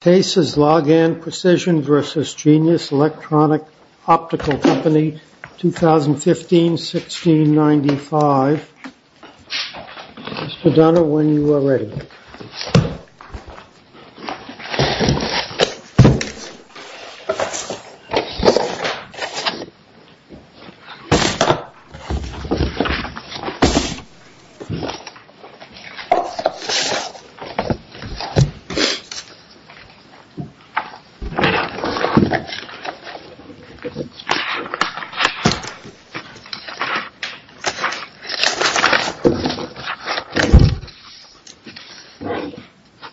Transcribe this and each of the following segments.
Case is Largan Precision v. Genius Electronic Optical Co. 2015-1695. Mr. Dunner, when you are ready.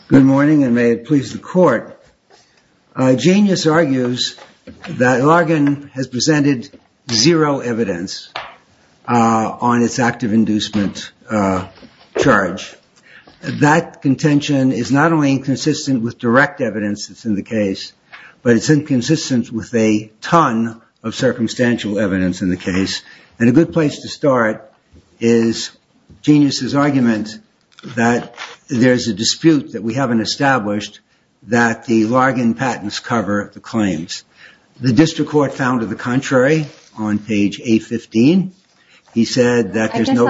Good morning and may it please the court. Genius argues that Largan has presented zero evidence on its active inducement charge. That contention is not only inconsistent with direct evidence that's in the case, but it's inconsistent with a ton of circumstantial evidence in the case. And a good place to start is Genius' argument that there's a dispute that we haven't established that the Largan patents cover the claims. The District Court found to the contrary on page 815. He said that there's no...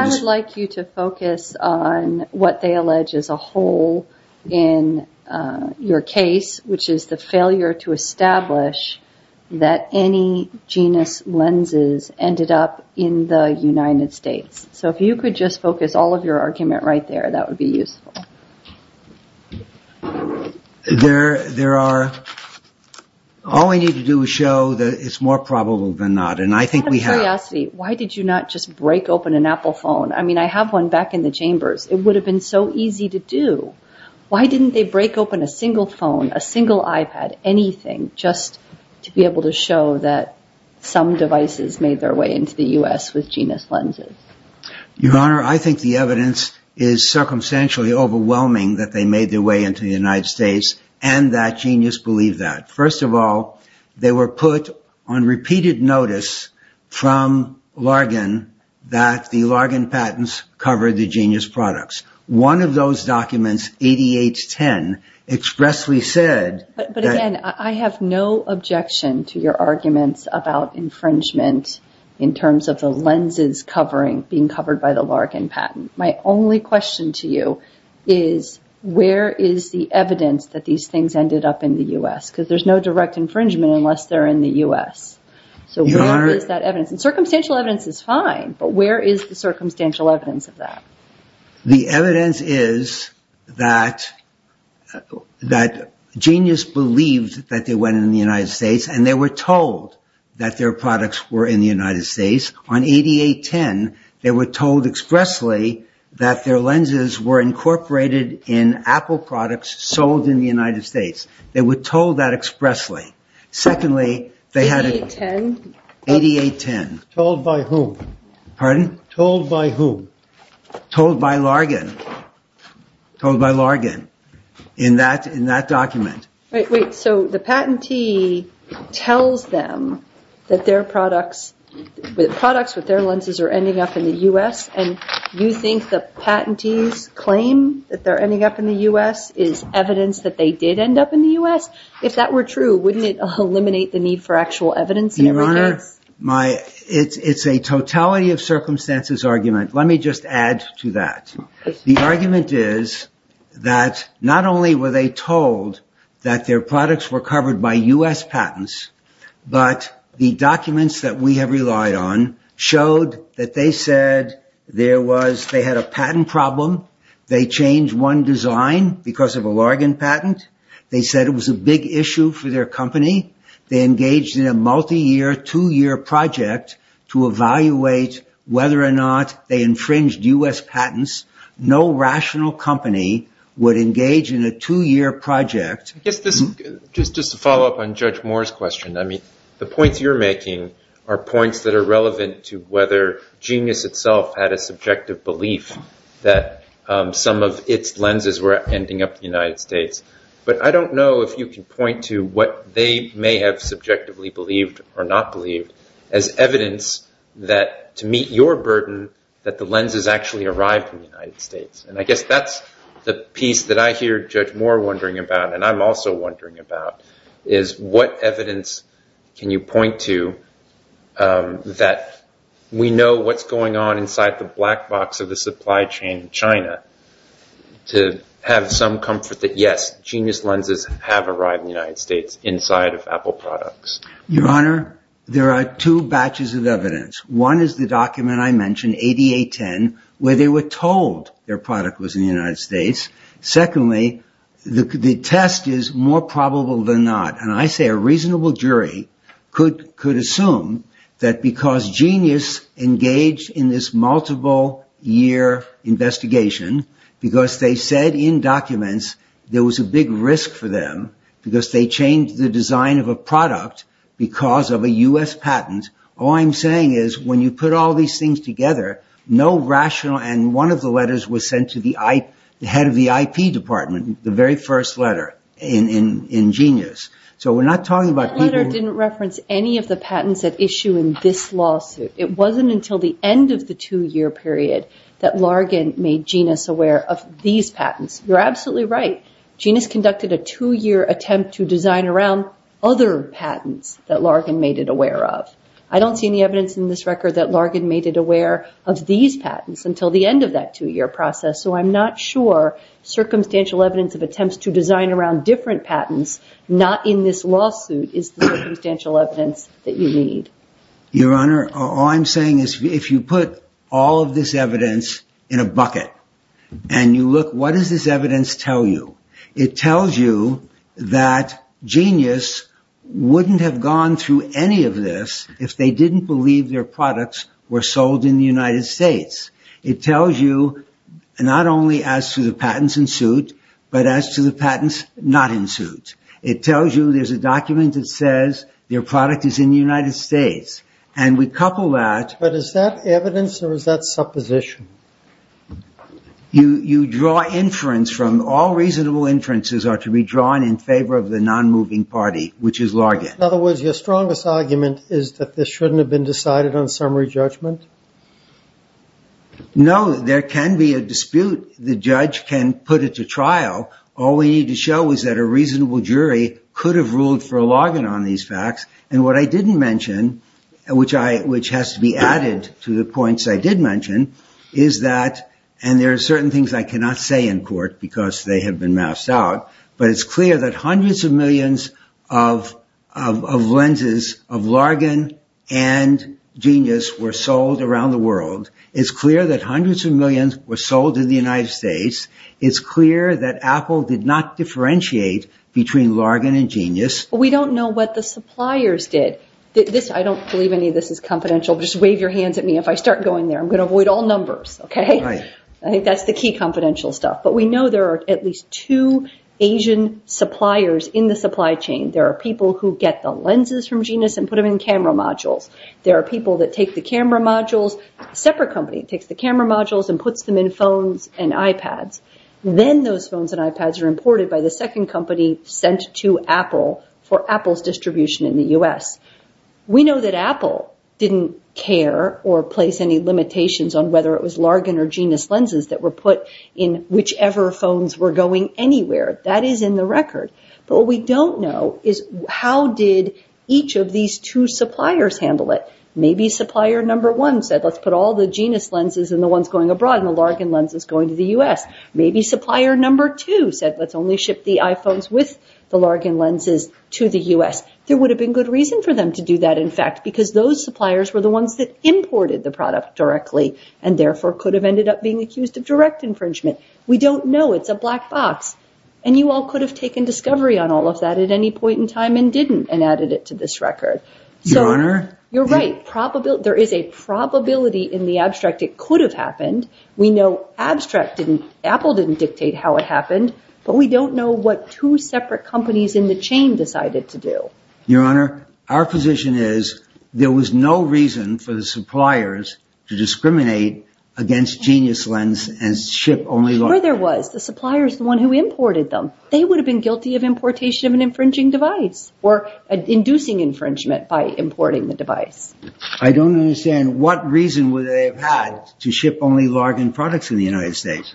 your case, which is the failure to establish that any Genius lenses ended up in the United States. So if you could just focus all of your argument right there, that would be useful. There are... all we need to do is show that it's more probable than not. And I think we have... Out of curiosity, why did you not just break open an Apple phone? I mean, I have one back in the chambers. It would have been so easy to do. Why didn't they break open a single phone, a single iPad, anything just to be able to show that some devices made their way into the U.S. with Genius lenses? Your Honor, I think the evidence is circumstantially overwhelming that they made their way into the United States and that Genius believed that. First of all, they were put on repeated notice from Largan that the Largan patents covered the Genius products. One of those documents, 8810, expressly said... But again, I have no objection to your arguments about infringement in terms of the lenses covering... being covered by the Largan patent. My only question to you is where is the evidence that these things ended up in the U.S.? Because there's no direct infringement unless they're in the U.S. So where is that evidence? Circumstantial evidence is fine, but where is the circumstantial evidence of that? The evidence is that Genius believed that they went in the United States and they were told that their products were in the United States. On 8810, they were told expressly that their lenses were incorporated in Apple products sold in the United States. They were told by who? Pardon? Told by who? Told by Largan. Told by Largan in that document. Wait, so the patentee tells them that their products with their lenses are ending up in the U.S. and you think the patentee's claim that they're ending up in the U.S. is evidence that they did end up in the U.S.? If that were true, wouldn't it eliminate the need for actual evidence in every case? It's a totality of circumstances argument. Let me just add to that. The argument is that not only were they told that their products were covered by U.S. patents, but the documents that we have relied on showed that they said there was... they had a patent problem. They changed one design because of a Largan patent. They said it was a big issue for their company. They engaged in a multi-year, two-year project to evaluate whether or not they infringed U.S. patents. No rational company would engage in a two-year project. Just to follow up on Judge Moore's question, the points you're making are points that are of its lenses were ending up in the United States, but I don't know if you can point to what they may have subjectively believed or not believed as evidence that to meet your burden that the lenses actually arrived in the United States. I guess that's the piece that I hear Judge Moore wondering about and I'm also wondering about is what evidence can you point to that we know what's going on inside the black box of the supply chain in China to have some comfort that, yes, genius lenses have arrived in the United States inside of Apple products? Your Honor, there are two batches of evidence. One is the document I mentioned, ADA10, where they were told their product was in the United States. Secondly, the test is more probable than not and I say a reasonable jury could assume that because genius engaged in this multiple-year investigation because they said in documents there was a big risk for them because they changed the design of a product because of a US patent. All I'm saying is when you put all these things together, no rational and one of the letters was sent to the head of the IP department, the very first letter in genius. That letter didn't reference any of the patents that issue in this lawsuit. It wasn't until the end of the two-year period that Largen made genius aware of these patents. You're absolutely right. Genius conducted a two-year attempt to design around other patents that Largen made it aware of. I don't see any evidence in this record that Largen made it aware of these patents until the end of that two-year process so I'm not sure circumstantial evidence of attempts to design around different patents not in this lawsuit is the circumstantial evidence that you need. Your Honor, all I'm saying is if you put all of this evidence in a bucket and you look what does this evidence tell you? It tells you that genius wouldn't have gone through any of this if they didn't believe their products were sold in the United States. It tells you not only as to the patents in suit but as to the patents not in suit. It tells you there's a document that says their product is in the United States and we couple that. But is that evidence or is that supposition? You draw inference from all reasonable inferences are to be drawn in favor of the non-moving party which is Largen. In other words, your strongest argument is that this shouldn't have been decided on summary judgment? No, there can be a dispute. The judge can put it to trial. All we need to show is that a reasonable jury could have ruled for Largen on these facts. What I didn't mention which has to be added to the points I did mention is that, and there are certain things I cannot say in court because they have been masked out, but it's clear that hundreds of millions of lenses of Largen and genius were sold around the world. It's clear that hundreds of millions were sold in the United States. It's clear that Apple did not differentiate between Largen and genius. We don't know what the suppliers did. I don't believe any of this is confidential. Just wave your hands at me if I start going there. I'm going to avoid all numbers. I think that's the key confidential stuff. But we know there are at least two Asian suppliers in the supply chain. There are people who get the lenses from genius and put them in camera modules. There are people that take the camera modules, a separate company takes the camera modules and puts them in phones and iPads. Then those phones and iPads are imported by the second company sent to Apple for Apple's distribution in the U.S. We know that Apple didn't care or place any limitations on whether it was Largen or genius lenses that were put in whichever phones were going anywhere. That is in the record, but what we don't know is how did each of these two suppliers handle it. Maybe supplier number one said let's put all the Largen lenses going to the U.S. Maybe supplier number two said let's only ship the iPhones with the Largen lenses to the U.S. There would have been good reason for them to do that in fact because those suppliers were the ones that imported the product directly and therefore could have ended up being accused of direct infringement. We don't know. It's a black box and you all could have taken discovery on all of that at any point in time and didn't and added it to this record. You're right. There is a probability in the abstract it could have happened. We know abstract didn't, Apple didn't dictate how it happened, but we don't know what two separate companies in the chain decided to do. Your Honor, our position is there was no reason for the suppliers to discriminate against genius lens and ship only Largen. Sure there was. The supplier is the one who imported them. They would have been guilty of importation of an infringing device or inducing infringement by importing the device. I don't understand what reason would they have had to ship only Largen products in the United States.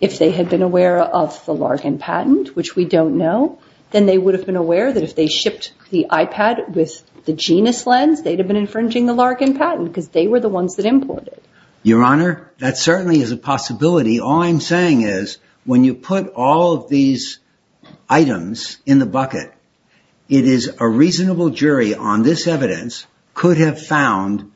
If they had been aware of the Largen patent, which we don't know, then they would have been aware that if they shipped the iPad with the genius lens, they'd have been infringing the Largen patent because they were the ones that imported. Your Honor, that certainly is a possibility. All I'm saying is when you put all of these items in the bucket, it is a reasonable jury on this evidence could have found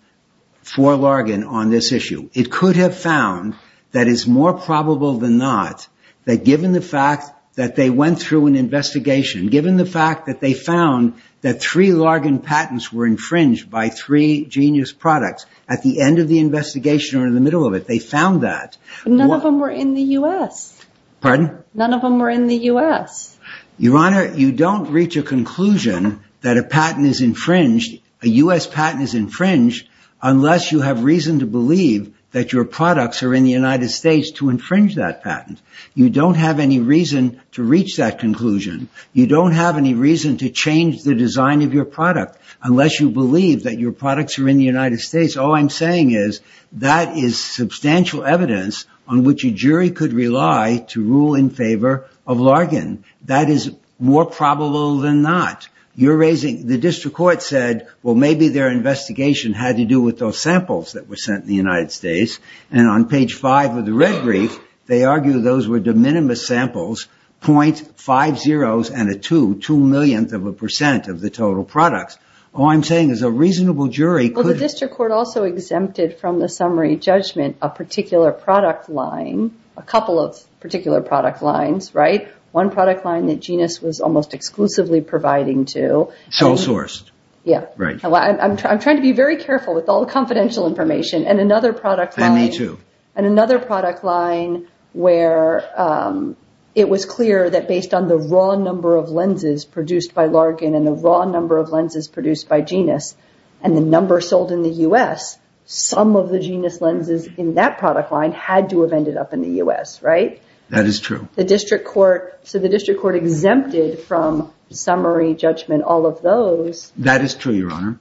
for Largen on this issue. It could have found that it's more probable than not that given the fact that they went through an investigation, given the fact that they found that three Largen patents were infringed by three genius products, at the end of the investigation or in the middle of it, they found that. None of them were in the U.S. Pardon? None of them were in the U.S. Your Honor, you don't reach a conclusion that a patent is infringed, a U.S. patent is infringed, unless you have reason to believe that your products are in the United States to infringe that patent. You don't have any reason to reach that conclusion. You don't have any reason to change the design of your product unless you believe that your products are in the United States. All I'm saying is that is substantial evidence on which a jury could rely to rule in favor of Largen. That is more probable than not. You're raising, the district court said, well, maybe their investigation had to do with those samples that were sent in the United States. And on page five of the red brief, they argue those were de minimis samples, .50s and a two, two millionth of a percent of the total products. All I'm saying is a reasonable jury could The district court also exempted from the summary judgment a particular product line, a couple of particular product lines, right? One product line that Genus was almost exclusively providing to Show sourced. Yeah. Right. I'm trying to be very careful with all the confidential information. And another product line And me too. And another product line where it was clear that based on the raw number of lenses produced by Largen and the raw number of lenses produced by Genus and the number sold in the U.S., some of the Genus lenses in that product line had to have ended up in the U.S., right? That is true. The district court, so the district court exempted from summary judgment, all of those. That is true, your honor.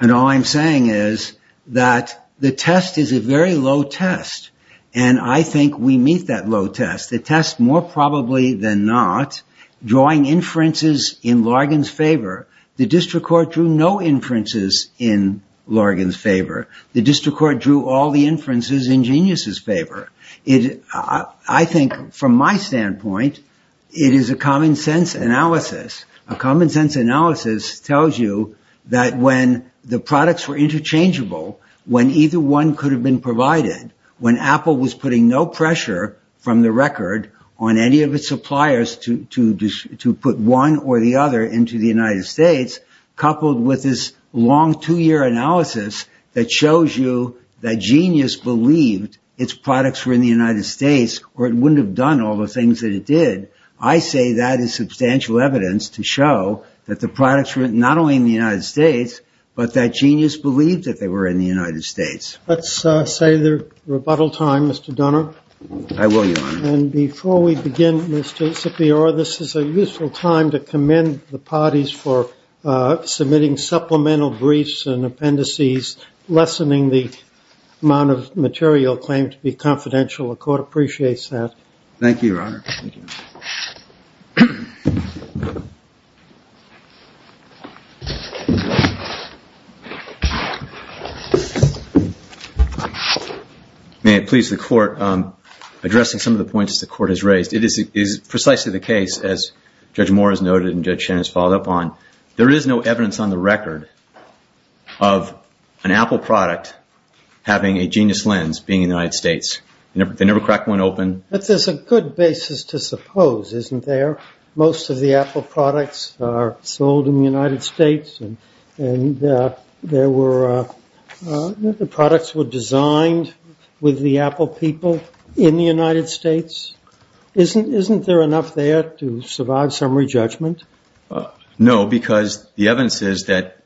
And all I'm saying is that the test is a very low test. And I think we meet that low test. The test more probably than not drawing inferences in Largen's favor. The district court drew all the inferences in Genus's favor. I think from my standpoint, it is a common sense analysis. A common sense analysis tells you that when the products were interchangeable, when either one could have been provided, when Apple was putting no pressure from the record on any of its suppliers to put one or the other into the United States, coupled with this long two-year analysis that shows you that Genus believed its products were in the United States or it wouldn't have done all the things that it did, I say that is substantial evidence to show that the products were not only in the United States, but that Genus believed that they were in the United States. Let's say the rebuttal time, Mr. Donner. I will, your honor. And before we begin, Mr. Sipior, this is a useful time to commend the parties for submitting supplemental briefs and appendices, lessening the amount of material claimed to be confidential. The court appreciates that. Thank you, your honor. May it please the court, addressing some of the points that the court has raised. It is precisely the case, as Judge Moore has noted and Judge Shannon has followed up on, there is no evidence on the record of an Apple product having a Genus lens being in the United States. They never cracked one open. But there's a good basis to suppose, isn't there? Most of the Apple products are sold in the United States and the products were designed with the Apple people in the United States. Isn't there enough there to survive summary judgment? No, because the evidence is that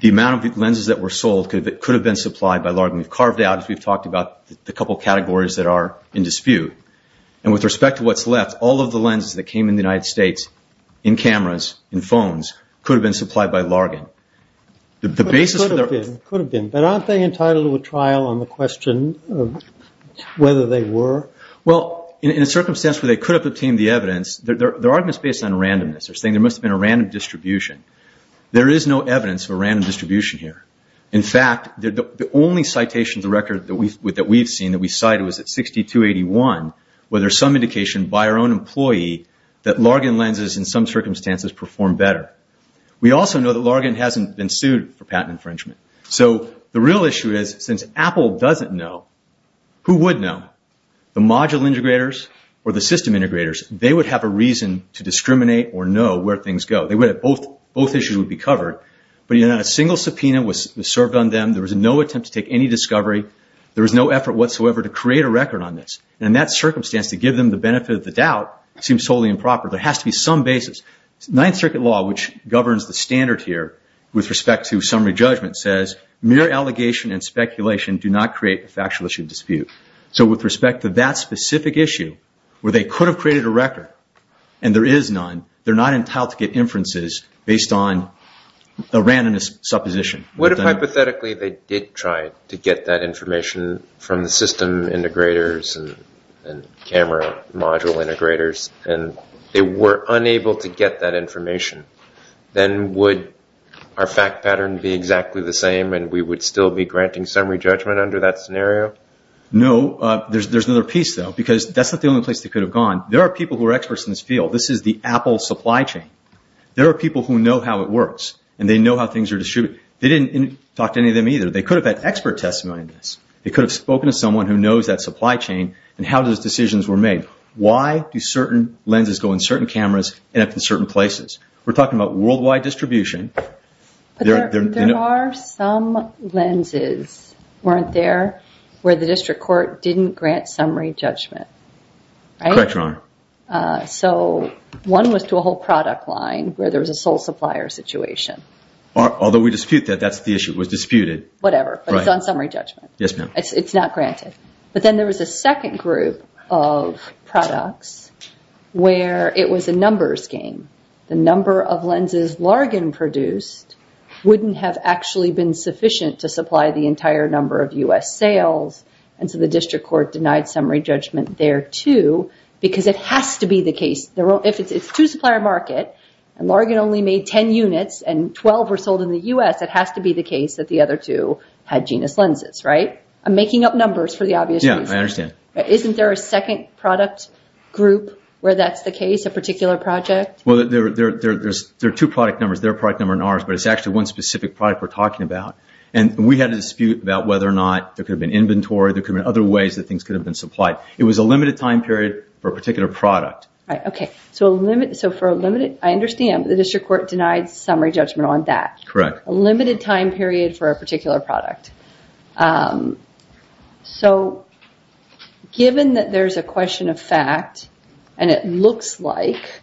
the amount of lenses that were sold could have been supplied by Largan. We've carved out, as we've talked about, the couple of categories that are in dispute. And with respect to what's left, all of the lenses that came in the United States in cameras, in phones, could have been supplied by Largan. But aren't they entitled to a trial on the question of whether they were? Well, in a circumstance where they could have obtained the evidence, their argument is based on randomness. They're saying there must have been a random distribution. There is no evidence of a random distribution here. In fact, the only citation of the record that we've seen that we cited was at 6281 where there's some indication by our own employee that Largan lenses, in some circumstances, perform better. We also know that Largan hasn't been sued for patent infringement. So the real issue is, since Apple doesn't know, who would know? The module integrators or the system integrators? They would have a reason to discriminate or know where things go. Both issues would be covered. But a single subpoena was served on them. There was no attempt to take any discovery. There was no effort whatsoever to create a record on this. In that circumstance, to give them the benefit of the doubt seems totally improper. There has to be some basis. Ninth Circuit law, which governs the standard here with respect to summary judgment, says mere allegation and speculation do not create a factual issue dispute. So with respect to that specific issue where they could have created a record and there is none, they're not entitled to get inferences based on a randomness supposition. What if, hypothetically, they did try to get that information from the system integrators and camera module integrators and they were unable to get that information? Then would our fact pattern be exactly the same and we would still be granting summary judgment under that scenario? No. There's another piece, though, because that's not the only place they could have gone. There are people who are experts in this field. This is the Apple supply chain. There are people who know how it works and they know how things are distributed. They didn't talk to any of them either. They could have had expert testimony on this. They could have spoken to someone who knows that supply chain and how those decisions were made. Why do certain lenses go in certain cameras and at certain places? We're talking about worldwide distribution. There are some lenses, weren't there, where the district court didn't grant summary judgment? Correct, Your Honor. One was to a whole product line where there was a sole supplier situation. Although we dispute that. That's the issue. It was disputed. Whatever, but it's on summary judgment. Yes, ma'am. It's not granted. Then there was a second group of products where it was a numbers game. The number of lenses Largan produced wouldn't have actually been sufficient to supply the entire number of U.S. sales. The district court denied summary judgment there, too, because it has to be the case. If it's two supplier market and Largan only made 10 units and 12 were sold in the U.S., it has to be the case that the other two had genus lenses, right? I'm making up numbers for the obvious reasons. Yes, I understand. Isn't there a second product group where that's the case, a particular project? There are two product numbers. Their product number and ours, but it's actually one specific product we're talking about. We had a dispute about whether or not there could have been inventory, there could have been other ways that things could have been supplied. It was a limited time period for a particular product. Right. Okay. I understand, but the district court denied summary judgment on that. Correct. A limited time period for a particular product. Given that there's a question of fact and it looks like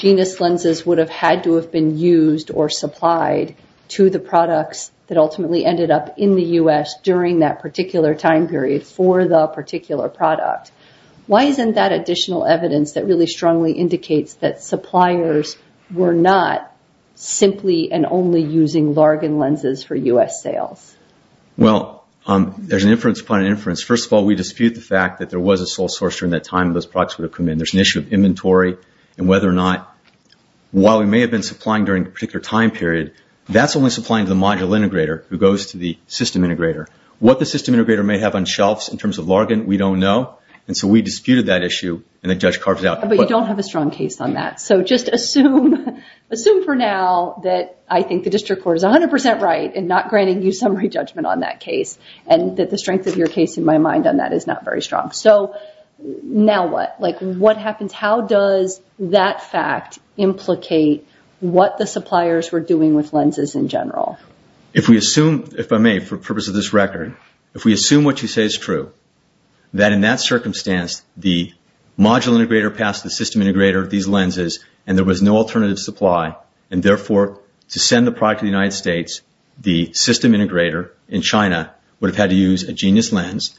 genus lenses would have had to have been used or supplied to the products that ultimately ended up in the U.S. during that particular time period for the particular product, why isn't that additional evidence that really strongly indicates that suppliers were not simply and only using Largan lenses for U.S. sales? Well, there's an inference upon inference. First of all, we dispute the fact that there was a sole source during that time those products would have come in. There's an issue of inventory and whether or not, while we may have been supplying during a particular time period, that's only supplying to the module integrator who goes to the system integrator. What the system integrator may have on shelves in terms of Largan, we don't know. We disputed that issue and the judge carves it out. But you don't have a strong case on that. Just assume for now that I think the district court is 100 percent right in not granting you summary judgment on that case and that the strength of your case in my mind on that is not very strong. Now what? Like, what happens? How does that fact implicate what the suppliers were doing with lenses in general? If we assume, if I may, for purpose of this record, if we assume what you say is true, that in that circumstance the module integrator passed the system integrator these lenses and there was no alternative supply, and therefore to send the product to the United States, the system integrator in China would have had to use a genius lens,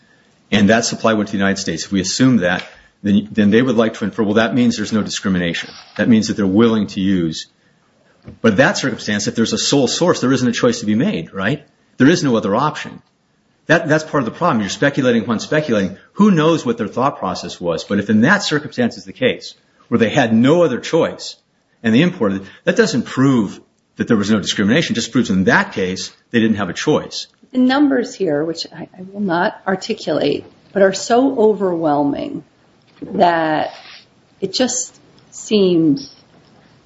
and that supply went to the United States. If we assume that, then they would like to infer, well, that means there's no discrimination. That means that they're willing to use. But in that circumstance, if there's a sole source, there isn't a choice to be made, right? There is no other option. That's part of the problem. You're speculating upon speculating. Who knows what their thought process was? But if in that circumstance is the case, where they had no other choice and they imported, that doesn't prove that there was no discrimination, it just proves in that case they didn't have a choice. The numbers here, which I will not articulate, but are so overwhelming that it just seems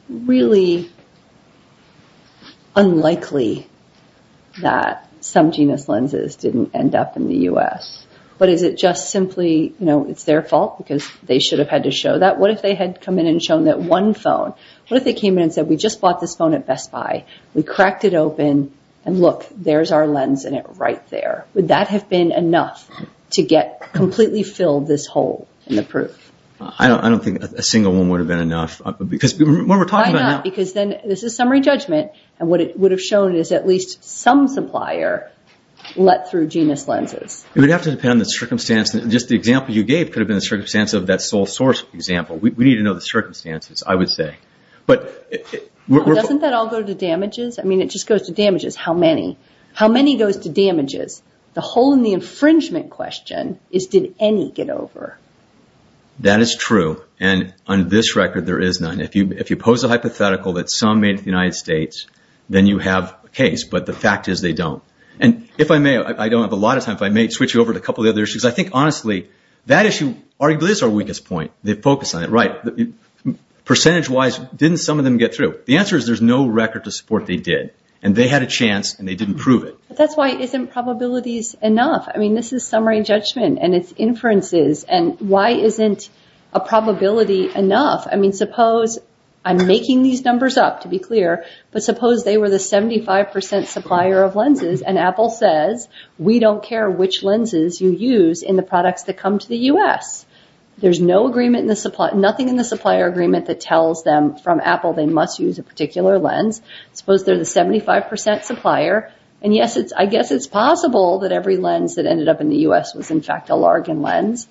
really unlikely that some genius lenses didn't end up in the U.S. But is it just simply, you know, it's their fault because they should have had to show that? What if they had come in and shown that one phone? What if they came in and said, we just bought this phone at Best Buy, we cracked it open, and look, there's our lens in it right there. Would that have been enough to get completely filled this hole in the proof? I don't think a single one would have been enough. Because when we're talking about... Why not? Because then this is summary judgment, and what it would have shown is at least some supplier let through genius lenses. It would have to depend on the circumstance. Just the example you gave could have been the circumstance of that sole source example. We need to know the circumstances, I would say. But... Doesn't that all go to damages? I mean, it just goes to damages. How many? How many goes to damages? The hole in the infringement question is, did any get over? That is true. And on this record, there is none. If you pose a hypothetical that some made it to the United States, then you have a case. But the fact is, they don't. And if I may, I don't have a lot of time, but I may switch you over to a couple of the other issues. I think, honestly, that issue arguably is our weakest point. They focus on it. Right. Percentage-wise, didn't some of them get through? The answer is, there's no record to support they did. And they had a chance, and they didn't prove it. That's why, isn't probabilities enough? I mean, this is summary judgment, and it's inferences. And why isn't a probability enough? I mean, suppose, I'm making these numbers up, to be clear. But suppose they were the 75% supplier of lenses, and Apple says, we don't care which lenses you use in the products that come to the U.S. There's no agreement in the supply, nothing in the supplier agreement that tells them from Apple they must use a particular lens. Suppose they're the 75% supplier, and yes, I guess it's possible that every lens that ended up in the U.S. was, in fact, a Largen lens.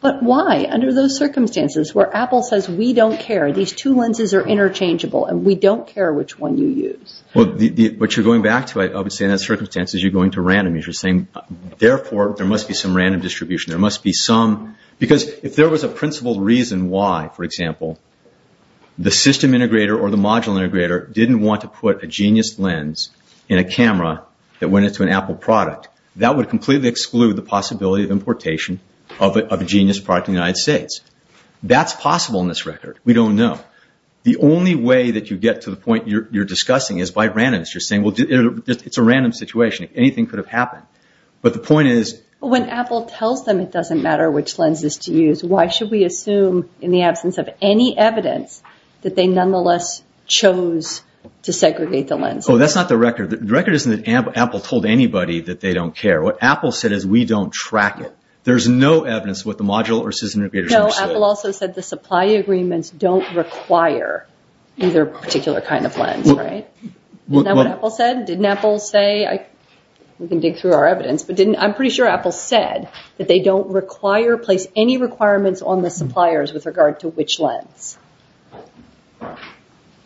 But why, under those circumstances, where Apple says, we don't care, these two lenses are interchangeable, and we don't care which one you use? Well, what you're going back to, I would say, in that circumstance, is you're going to random. You're saying, therefore, there must be some random distribution. There must be some, because if there was a principled reason why, for example, the system integrator or the module integrator didn't want to put a Genius lens in a camera that went into an Apple product, that would completely exclude the possibility of importation of a Genius product in the United States. That's possible in this record. We don't know. The only way that you get to the point you're discussing is by random. You're saying, well, it's a random situation. Anything could have happened. But the point is... When Apple tells them it doesn't matter which lenses to use, why should we assume, in the absence of any evidence, that they nonetheless chose to segregate the lenses? Oh, that's not the record. The record isn't that Apple told anybody that they don't care. What Apple said is, we don't track it. There's no evidence what the module or system integrator said. No, Apple also said the supply agreements don't require either particular kind of lens, right? Isn't that what Apple said? Didn't Apple say... We can dig through our evidence. I'm pretty sure Apple said that they don't place any requirements on the suppliers with regard to which lens.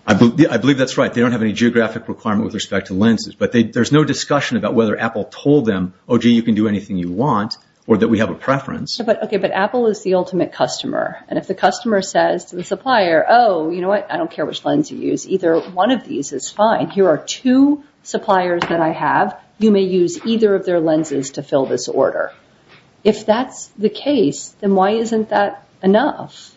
I believe that's right. They don't have any geographic requirement with respect to lenses. There's no discussion about whether Apple told them, oh, gee, you can do anything you want or that we have a preference. Okay, but Apple is the ultimate customer. If the customer says to the supplier, oh, you know what? I don't care which lens you use. Either one of these is fine. Here are two suppliers that I have. You may use either of their lenses to fill this order. If that's the case, then why isn't that enough?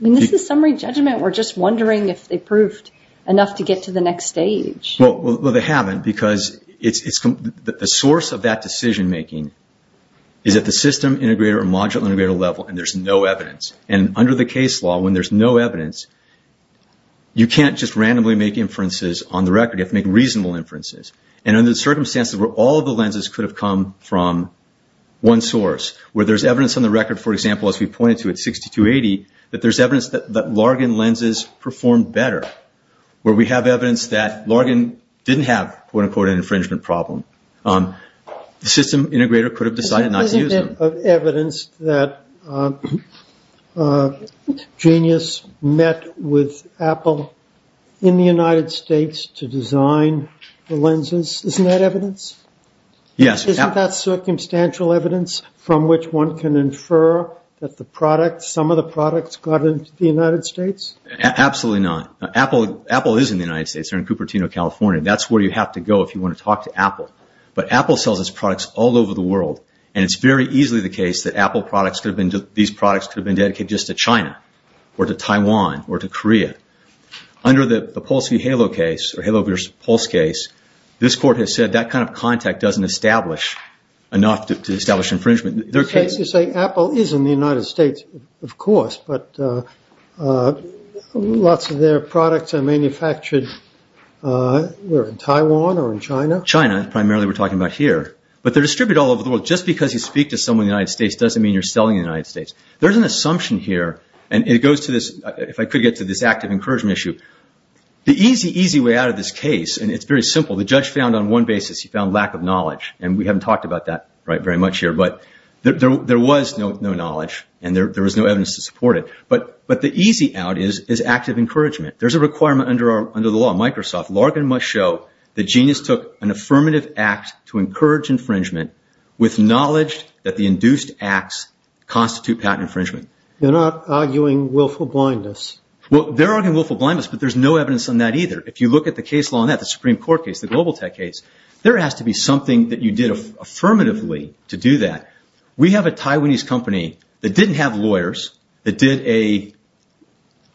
I mean, this is summary judgment. We're just wondering if they proved enough to get to the next stage. Well, they haven't because the source of that decision making is at the system integrator or module integrator level and there's no evidence. Under the case law, when there's no evidence, you can't just randomly make inferences on the record. You have to make reasonable inferences. And under the circumstances where all of the lenses could have come from one source, where there's evidence on the record, for example, as we pointed to at 6280, that there's evidence that Largan lenses perform better, where we have evidence that Largan didn't have, quote unquote, an infringement problem, the system integrator could have decided not to use them. There's evidence that Genius met with Apple in the United States to design the lenses. Isn't that evidence? Yes. Isn't that circumstantial evidence from which one can infer that some of the products got into the United States? Absolutely not. Apple is in the United States. They're in Cupertino, California. That's where you have to go if you want to talk to Apple. But Apple sells its products all over the world, and it's very easily the case that these products could have been dedicated just to China, or to Taiwan, or to Korea. Under the Pulse v. Halo case, or Halo v. Pulse case, this court has said that kind of contact doesn't establish enough to establish infringement. So you're saying Apple is in the United States, of course, but lots of their products are manufactured either in Taiwan or in China? China, primarily we're talking about here. But they're distributed all over the world. Just because you speak to someone in the United States doesn't mean you're selling in the United States. There's an assumption here, and it goes to this, if I could get to this active encouragement issue. The easy, easy way out of this case, and it's very simple, the judge found on one basis he found lack of knowledge, and we haven't talked about that very much here. But there was no knowledge, and there was no evidence to support it. But the easy out is active encouragement. There's a requirement under the law. Microsoft, Larkin must show that Genius took an affirmative act to encourage infringement with knowledge that the induced acts constitute patent infringement. They're not arguing willful blindness. They're arguing willful blindness, but there's no evidence on that either. If you look at the case law on that, the Supreme Court case, the Global Tech case, there has to be something that you did affirmatively to do that. We have a Taiwanese company that didn't have lawyers, that did a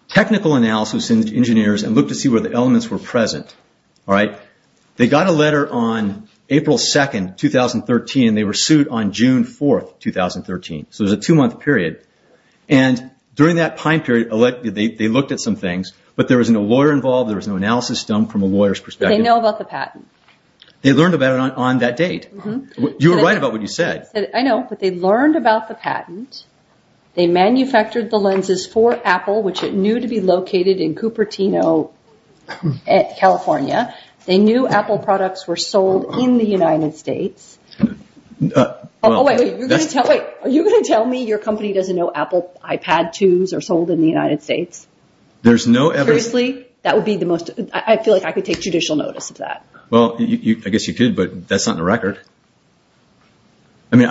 technical analysis in engineers and looked to see where the elements were present. They got a letter on April 2nd, 2013, and they were sued on June 4th, 2013. So there's a two-month period. During that time period, they looked at some things, but there was no lawyer involved. There was no analysis done from a lawyer's perspective. They know about the patent. They learned about it on that date. You were right about what you said. I know, but they learned about the patent. They manufactured the lenses for Apple, which it knew to be located in Cupertino, California. They knew Apple products were sold in the United States. Wait, wait. Are you going to tell me your company doesn't know Apple iPad 2s are sold in the United States? There's no evidence. Seriously? That would be the most... I feel like I could take judicial notice of that. Well, I guess you could, but that's not in the record. I mean,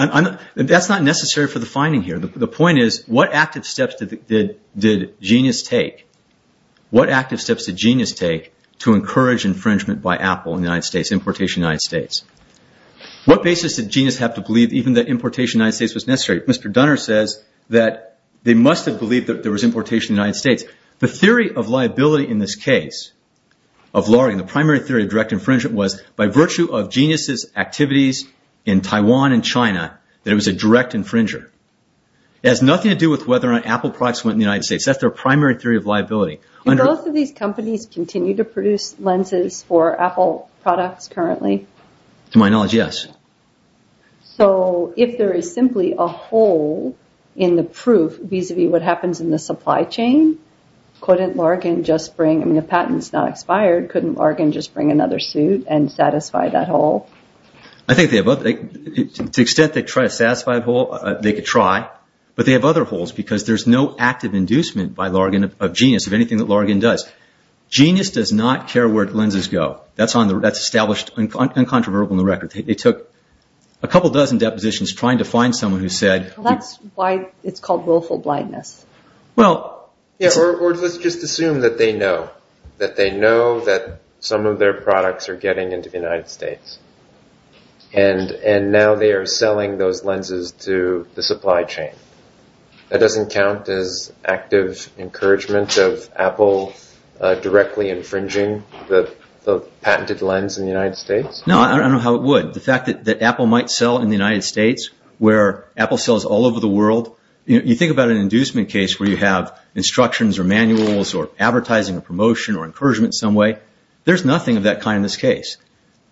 that's not necessary for the finding here. The point is, what active steps did Genius take to encourage infringement by Apple in the United States, importation in the United States? What basis did Genius have to believe even that importation in the United States was necessary? Mr. Dunner says that they must have believed that there was importation in the United States. The theory of liability in this case of lawyering, the primary theory of direct infringement, was by virtue of Genius' activities in Taiwan and China, that it was a direct infringer. It has nothing to do with whether or not Apple products went in the United States. That's their primary theory of liability. Do both of these companies continue to produce lenses for Apple products currently? To my knowledge, yes. So if there is simply a hole in the proof vis-a-vis what happens in the supply chain, couldn't Larkin just bring... and satisfy that hole? I think they have... To the extent they try to satisfy the hole, they could try, but they have other holes because there's no active inducement by Larkin of Genius of anything that Larkin does. Genius does not care where lenses go. That's established and controversial in the record. They took a couple dozen depositions trying to find someone who said... That's why it's called willful blindness. Well... Yeah, or let's just assume that they know, that they know that some of their products are getting into the United States, and now they are selling those lenses to the supply chain. That doesn't count as active encouragement of Apple directly infringing the patented lens in the United States? No, I don't know how it would. The fact that Apple might sell in the United States, where Apple sells all over the world. You think about an inducement case where you have instructions or manuals or advertising or promotion or encouragement some way. There's nothing of that kind in this case.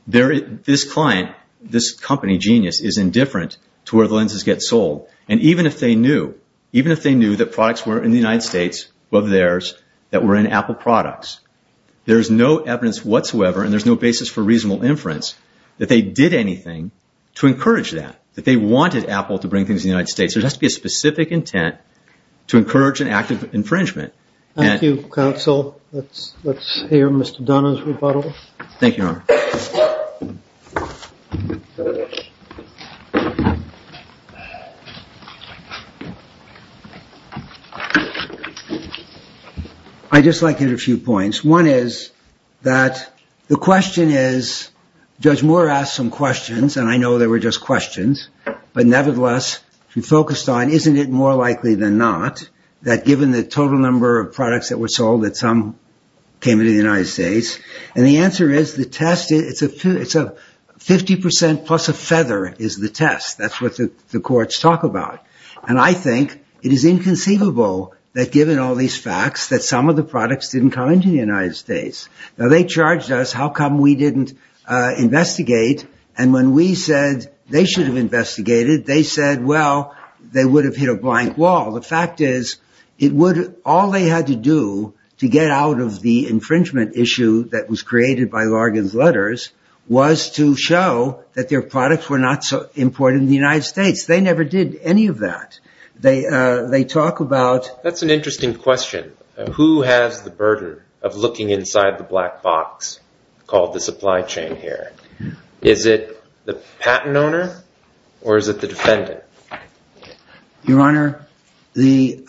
This client, this company, Genius, is indifferent to where the lenses get sold. And even if they knew, even if they knew that products were in the United States, of theirs, that were in Apple products, there's no evidence whatsoever and there's no basis for reasonable inference that they did anything to encourage that, that they wanted Apple to bring things to the United States. There has to be a specific intent to encourage an active infringement. Thank you, counsel. Let's hear Mr. Dunna's rebuttal. Thank you, Your Honor. I'd just like to get a few points. One is that the question is, Judge Moore asked some questions, and I know they were just questions, but nevertheless, she focused on, isn't it more likely than not that given the outcome came into the United States? And the answer is the test, it's a 50% plus a feather is the test. That's what the courts talk about. And I think it is inconceivable that given all these facts that some of the products didn't come into the United States. Now, they charged us, how come we didn't investigate? And when we said they should have investigated, they said, well, they would have hit a blank wall. The fact is, all they had to do to get out of the infringement issue that was created by Largan's letters was to show that their products were not so important in the United States. They never did any of that. They talk about- That's an interesting question. Who has the burden of looking inside the black box called the supply chain here? Is it the patent owner, or is it the defendant? Your Honor, the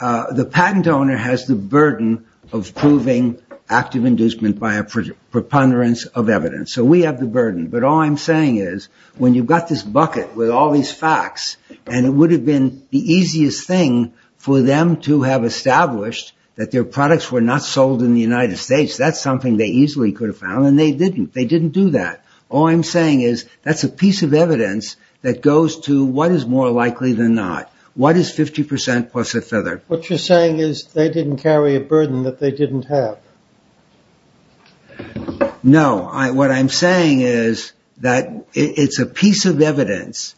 patent owner has the burden of proving active inducement by a preponderance of evidence. So we have the burden. But all I'm saying is, when you've got this bucket with all these facts, and it would have been the easiest thing for them to have established that their products were not sold in the United States, that's something they easily could have found, and they didn't. They didn't do that. All I'm saying is, that's a piece of evidence that goes to what is more likely than not. What is 50% plus a feather? What you're saying is, they didn't carry a burden that they didn't have. No. What I'm saying is that it's a piece of evidence.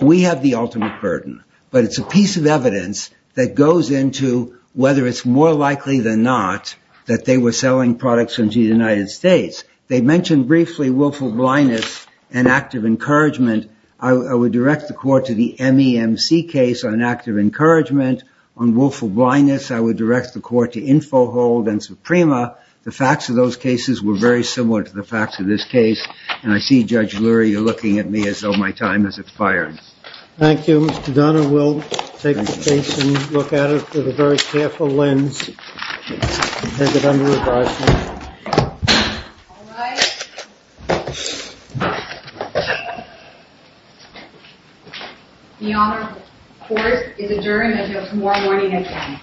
We have the ultimate burden. But it's a piece of evidence that goes into whether it's more likely than not that they were selling products into the United States. They mentioned briefly willful blindness and active encouragement. I would direct the court to the MEMC case on active encouragement. On willful blindness, I would direct the court to Infohold and Suprema. The facts of those cases were very similar to the facts of this case. And I see, Judge Lurie, you're looking at me as though my time has expired. Thank you, Mr. Donner. We'll take a look at it with a very careful lens. Thank you, Mr. Donner. Goodbye. All rise. The Honorable Court is adjourned until tomorrow morning at 10.